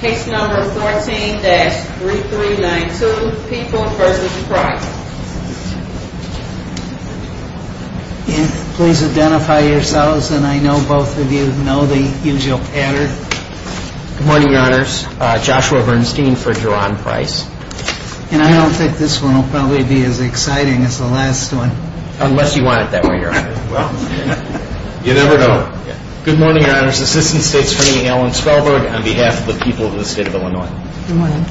Case number 14-3392, People v. Price. And please identify yourselves, and I know both of you know the usual pattern. Good morning, Your Honors. Joshua Bernstein for Jerome Price. And I don't think this one will probably be as exciting as the last one. Unless you want it that way, Your Honor. Well, you never know. Good morning, Your Honors. Assistant State Attorney Alan Spelberg on behalf of the people of the state of Illinois. Good morning.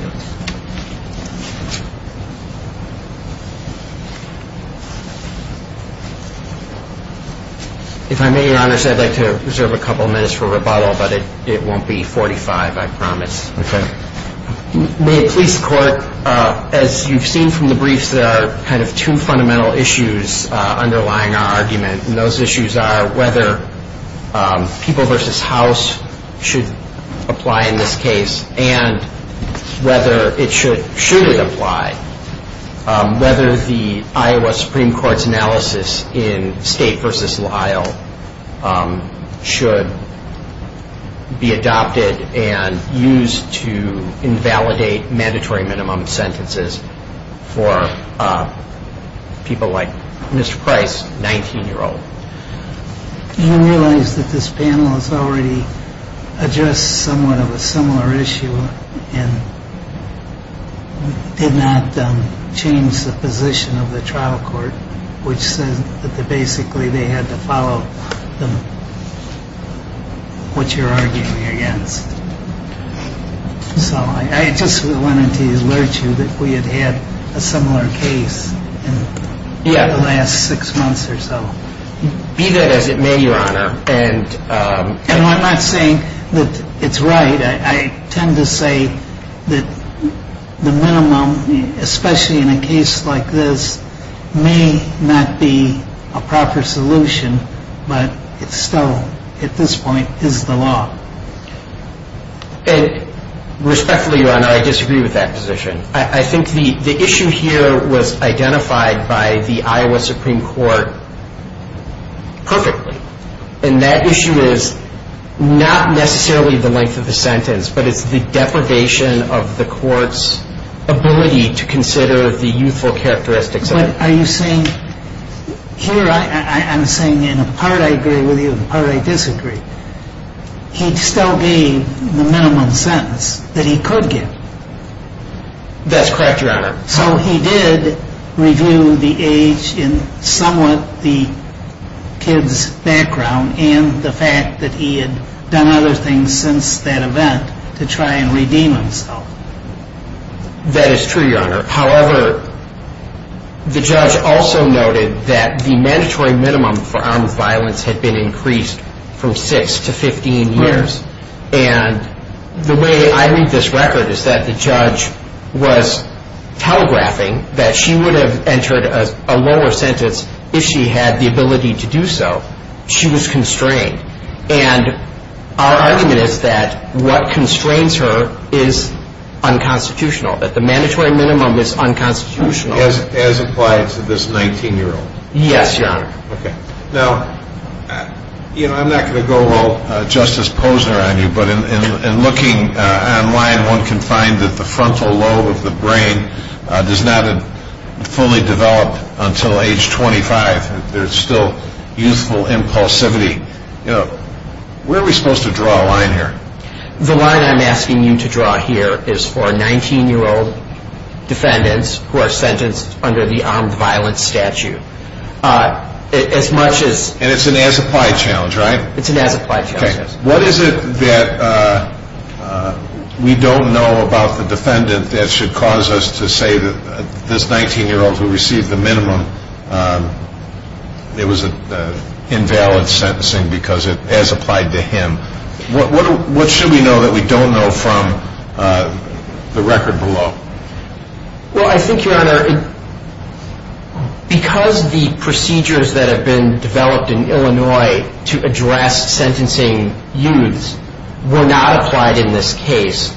If I may, Your Honors, I'd like to reserve a couple of minutes for rebuttal, but it won't be 45, I promise. Okay. May it please the Court, as you've seen from the briefs, there are kind of two fundamental issues underlying our argument. And those issues are whether People v. House should apply in this case, and whether it should surely apply. Whether the Iowa Supreme Court's analysis in State v. Lyle should be adopted and used to invalidate mandatory minimum sentences for people like Mr. Price, 19-year-old. You realize that this panel has already addressed somewhat of a similar issue and did not change the position of the trial court, which says that basically they had to follow what you're arguing against. So I just wanted to alert you that we had had a similar case in the last six months or so. Be that as it may, Your Honor. And I'm not saying that it's right. I tend to say that the minimum, especially in a case like this, may not be a proper solution, but it still, at this point, is the law. And respectfully, Your Honor, I disagree with that position. I think the issue here was identified by the Iowa Supreme Court perfectly. And that issue is not necessarily the length of the sentence, but it's the deprivation of the court's ability to consider the youthful characteristics of it. But are you saying, here I'm saying in a part I agree with you and a part I disagree, he'd still be the minimum sentence that he could get? That's correct, Your Honor. So he did review the age and somewhat the kid's background and the fact that he had done other things since that event to try and redeem himself. That is true, Your Honor. However, the judge also noted that the mandatory minimum for armed violence had been increased from 6 to 15 years. And the way I read this record is that the judge was telegraphing that she would have entered a lower sentence if she had the ability to do so. She was constrained. And our argument is that what constrains her is unconstitutional, that the mandatory minimum is unconstitutional. As applied to this 19-year-old? Yes, Your Honor. Okay. Now, I'm not going to go all Justice Posner on you, but in looking online one can find that the frontal lobe of the brain does not fully develop until age 25. There's still youthful impulsivity. Where are we supposed to draw a line here? The line I'm asking you to draw here is for 19-year-old defendants who are sentenced under the armed violence statute. As much as... And it's an as-applied challenge, right? It's an as-applied challenge. Okay. What is it that we don't know about the defendant that should cause us to say that this 19-year-old who received the minimum, it was an invalid sentencing because it as-applied to him. What should we know that we don't know from the record below? Well, I think, Your Honor, because the procedures that have been developed in Illinois to address sentencing youths were not applied in this case,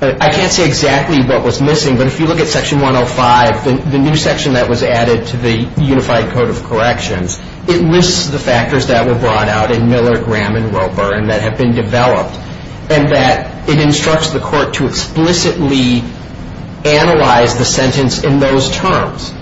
I can't say exactly what was missing, but if you look at Section 105, the new section that was added to the Unified Code of Corrections, it lists the factors that were brought out in Miller, Graham, and Roper and that have been developed, and that it instructs the court to explicitly analyze the sentence in those terms.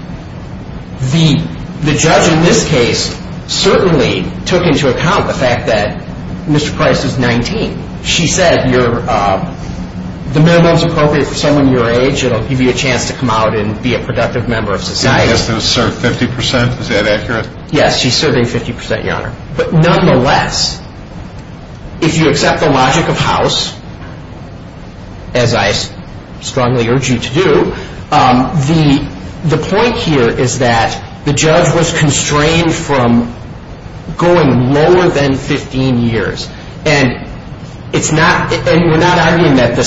The judge in this case certainly took into account the fact that Mr. Price is 19. She said the minimum is appropriate for someone your age. It will give you a chance to come out and be a productive member of society. Yes, it asserts 50 percent. Is that accurate? Yes, she's serving 50 percent, Your Honor. But nonetheless, if you accept the logic of House, as I strongly urge you to do, the point here is that the judge was constrained from going lower than 15 years, and we're not arguing that the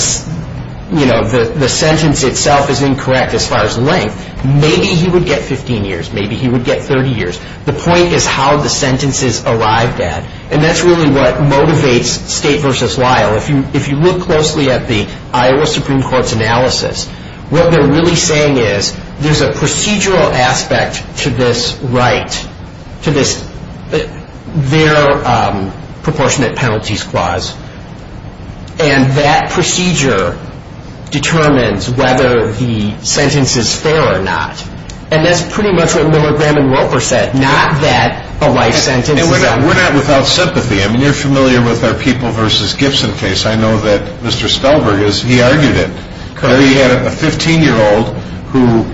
sentence itself is incorrect as far as length. Maybe he would get 15 years. Maybe he would get 30 years. The point is how the sentence is arrived at, and that's really what motivates State v. Lyle. If you look closely at the Iowa Supreme Court's analysis, what they're really saying is there's a procedural aspect to this right, to their proportionate penalties clause, and that procedure determines whether the sentence is fair or not. And that's pretty much what Miller, Graham, and Roper said, not that a life sentence is unfair. We're not without sympathy. I mean, you're familiar with our People v. Gibson case. I know that Mr. Spellberg, he argued it. He had a 15-year-old who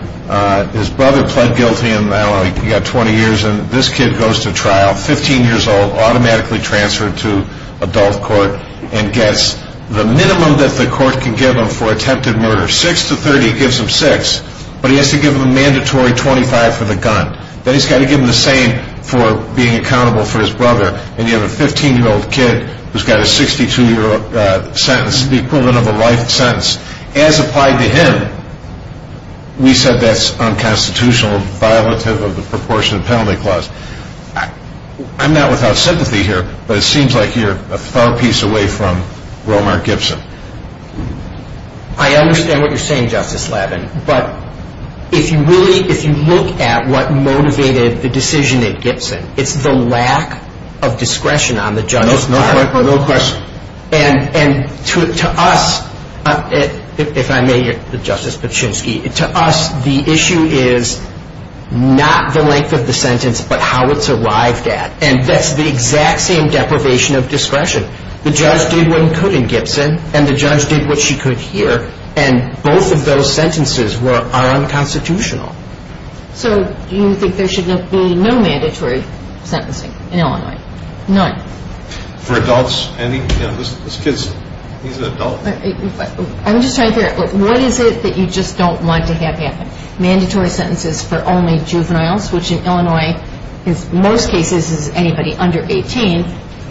his brother pled guilty, and now he's got 20 years, and this kid goes to trial, 15 years old, automatically transferred to adult court, and gets the minimum that the court can give him for attempted murder. 6 to 30 gives him 6, but he has to give him a mandatory 25 for the gun. Then he's got to give him the same for being accountable for his brother, and you have a 15-year-old kid who's got a 62-year-old sentence equivalent of a life sentence. As applied to him, we said that's unconstitutional and violative of the proportionate penalty clause. I'm not without sympathy here, but it seems like you're a far piece away from Romer-Gibson. I understand what you're saying, Justice Labin, but if you look at what motivated the decision at Gibson, it's the lack of discretion on the judge's part. No question. And to us, if I may, Justice Paczynski, to us the issue is not the length of the sentence, but how it's arrived at, and that's the exact same deprivation of discretion. The judge did what he could in Gibson, and the judge did what she could here, and both of those sentences are unconstitutional. So you think there should be no mandatory sentencing in Illinois? None? For adults, any? This kid's an adult. I'm just trying to figure out, what is it that you just don't want to have happen? Mandatory sentences for only juveniles, which in Illinois in most cases is anybody under 18,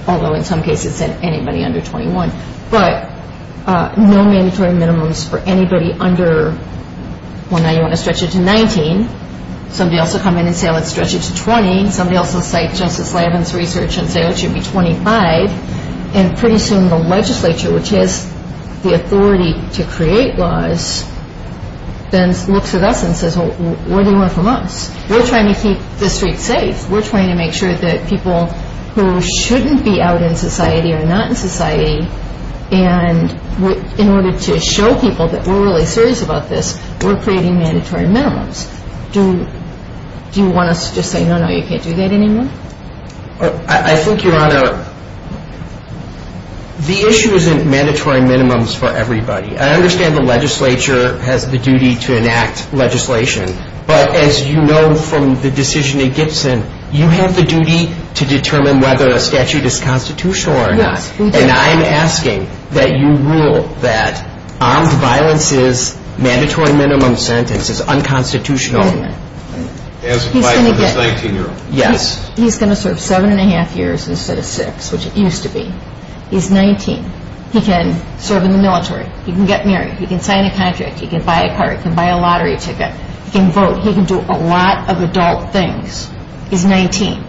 although in some cases it's anybody under 21. But no mandatory minimums for anybody under 19. You want to stretch it to 19. Somebody else will come in and say, let's stretch it to 20. Somebody else will cite Justice Labin's research and say, oh, it should be 25. And pretty soon the legislature, which has the authority to create laws, then looks at us and says, well, where do you want it from us? We're trying to keep the streets safe. We're trying to make sure that people who shouldn't be out in society are not in society, and in order to show people that we're really serious about this, we're creating mandatory minimums. Do you want us to just say, no, no, you can't do that anymore? I think, Your Honor, the issue isn't mandatory minimums for everybody. I understand the legislature has the duty to enact legislation, but as you know from the decision in Gibson, you have the duty to determine whether a statute is constitutional or not. Yes, we do. And I'm asking that you rule that armed violence's mandatory minimum sentence is unconstitutional. As applied to this 19-year-old. Yes. He's going to serve seven and a half years instead of six, which it used to be. He's 19. He can serve in the military. He can get married. He can sign a contract. He can buy a car. He can buy a lottery ticket. He can vote. He can do a lot of adult things. He's 19.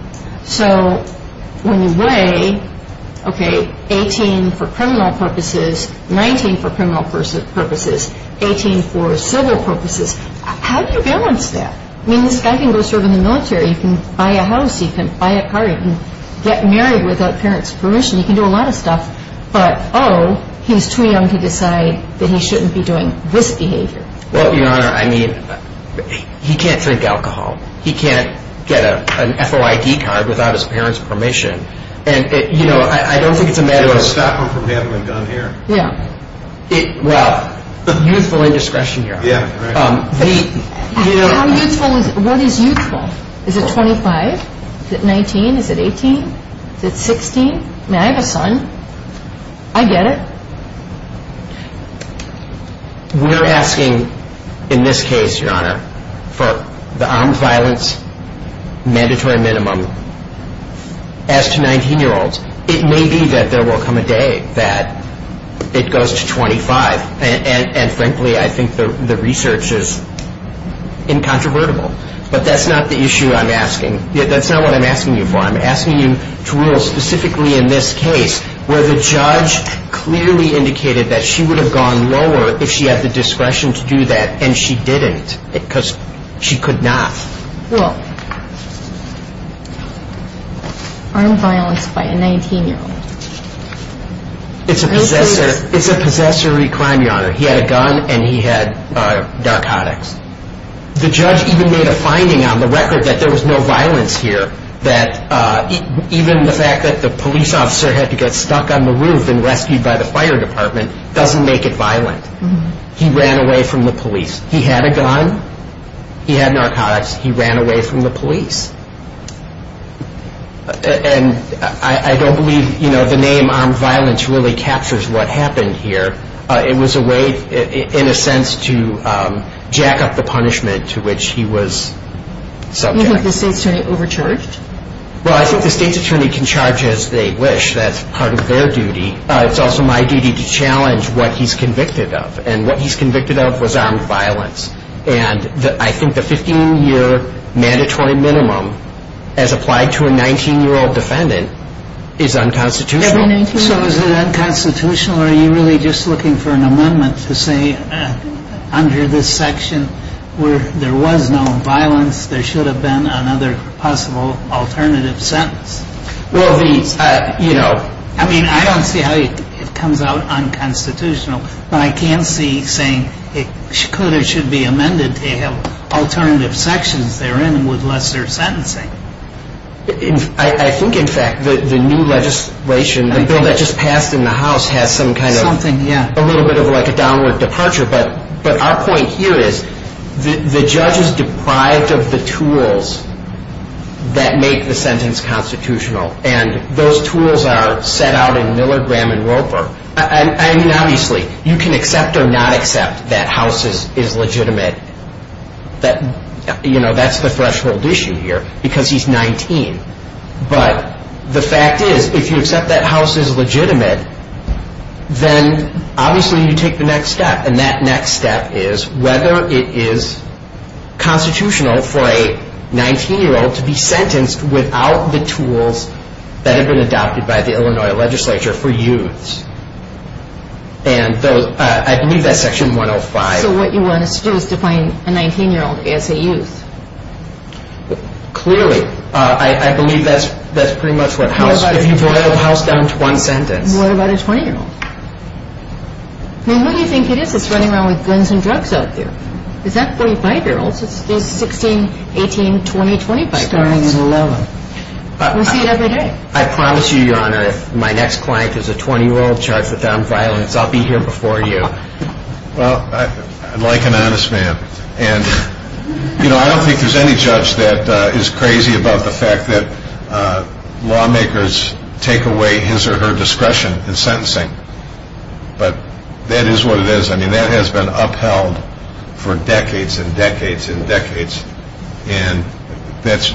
So when you weigh, okay, 18 for criminal purposes, 19 for criminal purposes, 18 for civil purposes, how do you balance that? I mean, this guy can go serve in the military. He can buy a house. He can buy a car. He can get married without parents' permission. He can do a lot of stuff. But, oh, he's too young to decide that he shouldn't be doing this behavior. Well, Your Honor, I mean, he can't drink alcohol. He can't get an FOID card without his parents' permission. And, you know, I don't think it's a matter of – Can you stop him from having a gun here? Yeah. Well, youthful indiscretion here. Yeah, right. How youthful is – what is youthful? Is it 25? Is it 19? Is it 18? Is it 16? I mean, I have a son. I get it. We're asking, in this case, Your Honor, for the armed violence mandatory minimum. As to 19-year-olds, it may be that there will come a day that it goes to 25. And, frankly, I think the research is incontrovertible. But that's not the issue I'm asking. That's not what I'm asking you for. I'm asking you to rule specifically in this case where the judge clearly indicated that she would have gone lower if she had the discretion to do that, and she didn't because she could not. Well, armed violence by a 19-year-old. It's a possessory crime, Your Honor. He had a gun and he had narcotics. The judge even made a finding on the record that there was no violence here, that even the fact that the police officer had to get stuck on the roof and rescued by the fire department doesn't make it violent. He ran away from the police. He had a gun. He had narcotics. He ran away from the police. And I don't believe the name armed violence really captures what happened here. It was a way, in a sense, to jack up the punishment to which he was subject. You think the state's attorney overcharged? Well, I think the state's attorney can charge as they wish. That's part of their duty. It's also my duty to challenge what he's convicted of. And what he's convicted of was armed violence. And I think the 15-year mandatory minimum as applied to a 19-year-old defendant is unconstitutional. So is it unconstitutional or are you really just looking for an amendment to say under this section where there was no violence there should have been another possible alternative sentence? Well, the, you know. I mean, I don't see how it comes out unconstitutional, but I can see saying it could or should be amended to have alternative sections therein with lesser sentencing. I think, in fact, the new legislation, the bill that just passed in the House, has some kind of a little bit of like a downward departure. But our point here is the judge is deprived of the tools that make the sentence constitutional. And those tools are set out in Miller, Graham, and Roper. I mean, obviously, you can accept or not accept that House is legitimate. You know, that's the threshold issue here because he's 19. But the fact is, if you accept that House is legitimate, then obviously you take the next step. And that next step is whether it is constitutional for a 19-year-old to be sentenced without the tools that have been adopted by the Illinois legislature for youths. And I believe that's section 105. So what you want us to do is define a 19-year-old as a youth? Clearly. I believe that's pretty much what House, if you boil House down to one sentence. What about a 20-year-old? I mean, who do you think it is that's running around with guns and drugs out there? It's not 45-year-olds. It's 16, 18, 20, 25-year-olds. Starting at 11. We see it every day. I promise you, Your Honor, if my next client is a 20-year-old charged with armed violence, I'll be here before you. Well, I like an honest man. And, you know, I don't think there's any judge that is crazy about the fact that lawmakers take away his or her discretion in sentencing. But that is what it is. I mean, that has been upheld for decades and decades and decades. And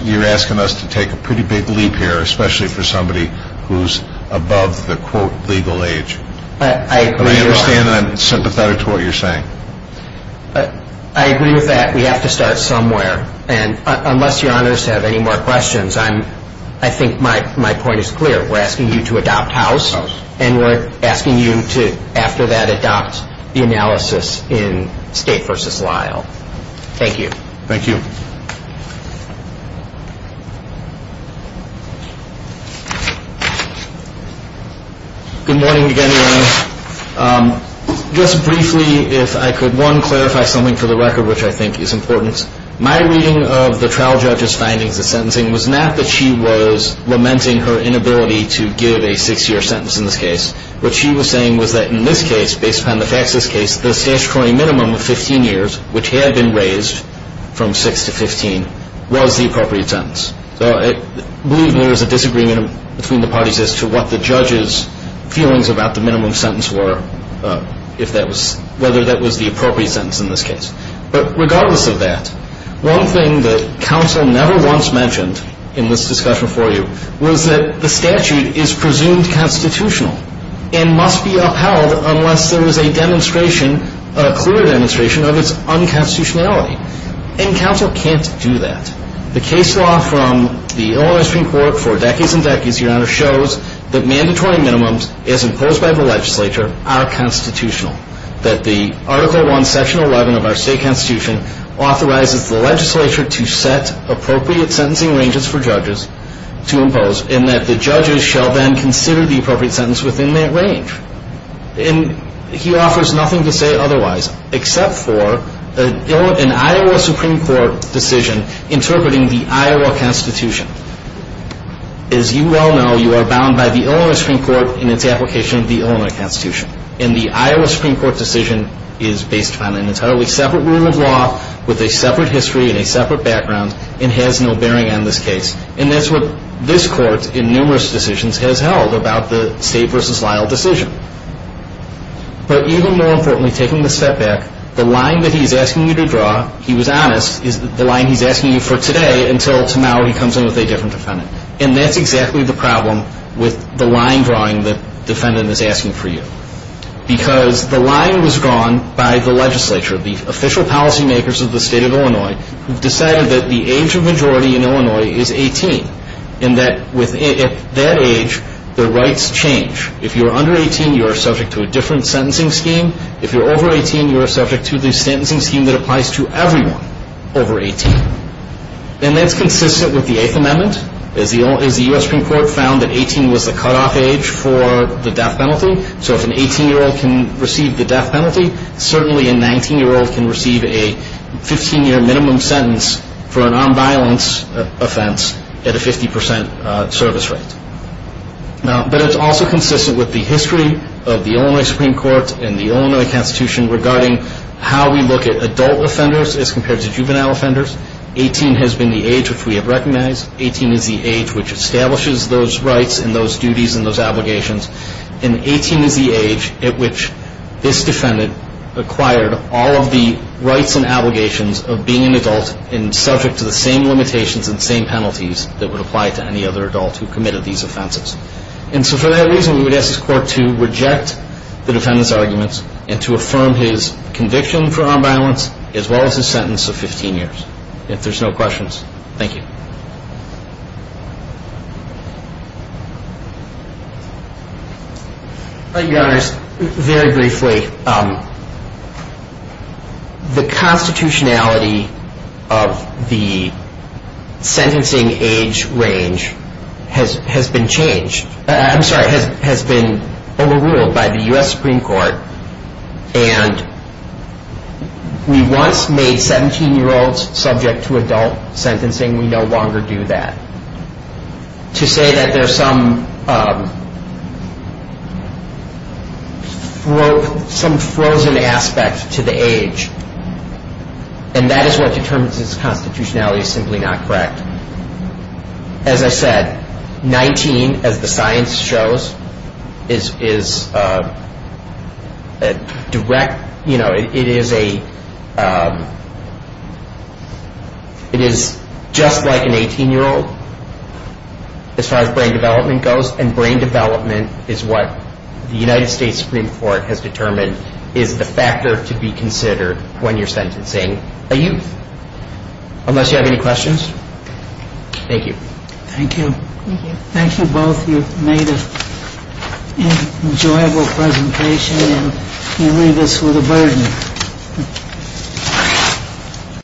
you're asking us to take a pretty big leap here, especially for somebody who's above the, quote, legal age. I understand and I'm sympathetic to what you're saying. I agree with that. We have to start somewhere. And unless Your Honors have any more questions, I think my point is clear. We're asking you to adopt House, and we're asking you to, after that, adopt the analysis in State v. Lyle. Thank you. Thank you. Thank you. Good morning again, Your Honor. Just briefly, if I could, one, clarify something for the record which I think is important. My reading of the trial judge's findings of sentencing was not that she was lamenting her inability to give a six-year sentence in this case. What she was saying was that in this case, based upon the facts of this case, the statutory minimum of 15 years, which had been raised from six to 15, was the appropriate sentence. So I believe there is a disagreement between the parties as to what the judge's feelings about the minimum sentence were, whether that was the appropriate sentence in this case. But regardless of that, one thing that counsel never once mentioned in this discussion before you was that the statute is presumed constitutional and must be upheld unless there was a demonstration, a clear demonstration of its unconstitutionality. And counsel can't do that. The case law from the Illinois Supreme Court for decades and decades, Your Honor, shows that mandatory minimums, as imposed by the legislature, are constitutional, that the Article I, Section 11 of our state constitution authorizes the legislature to set appropriate sentencing ranges for judges to impose and that the judges shall then consider the appropriate sentence within that range. And he offers nothing to say otherwise except for an Iowa Supreme Court decision interpreting the Iowa Constitution. As you well know, you are bound by the Illinois Supreme Court in its application of the Illinois Constitution. And the Iowa Supreme Court decision is based upon an entirely separate rule of law with a separate history and a separate background and has no bearing on this case. And that's what this Court in numerous decisions has held about the State v. Lyle decision. But even more importantly, taking a step back, the line that he's asking you to draw, he was honest, is the line he's asking you for today until tomorrow he comes in with a different defendant. And that's exactly the problem with the line drawing the defendant is asking for you. Because the line was drawn by the legislature, the official policymakers of the State of Illinois, who decided that the age of majority in Illinois is 18 and that at that age, the rights change. If you're under 18, you're subject to a different sentencing scheme. If you're over 18, you're subject to the sentencing scheme that applies to everyone over 18. And that's consistent with the Eighth Amendment, as the U.S. Supreme Court found that 18 was the cutoff age for the death penalty. So if an 18-year-old can receive the death penalty, certainly a 19-year-old can receive a 15-year minimum sentence for a nonviolence offense at a 50% service rate. But it's also consistent with the history of the Illinois Supreme Court and the Illinois Constitution regarding how we look at adult offenders as compared to juvenile offenders. 18 has been the age which we have recognized. 18 is the age which establishes those rights and those duties and those obligations. And 18 is the age at which this defendant acquired all of the rights and obligations of being an adult and subject to the same limitations and same penalties that would apply to any other adult who committed these offenses. And so for that reason, we would ask this Court to reject the defendant's arguments and to affirm his conviction for nonviolence as well as his sentence of 15 years. If there's no questions, thank you. Thank you, Your Honors. Very briefly, the constitutionality of the sentencing age range has been changed. I'm sorry, has been overruled by the U.S. Supreme Court. And we once made 17-year-olds subject to adult sentencing. We no longer do that. To say that there's some frozen aspect to the age and that is what determines its constitutionality is simply not correct. As I said, 19, as the science shows, is just like an 18-year-old as far as brain development goes. And brain development is what the United States Supreme Court has determined is the factor to be considered when you're sentencing a youth. Unless you have any questions, thank you. Thank you. Thank you. Thank you both. You've made an enjoyable presentation and you leave us with a burden.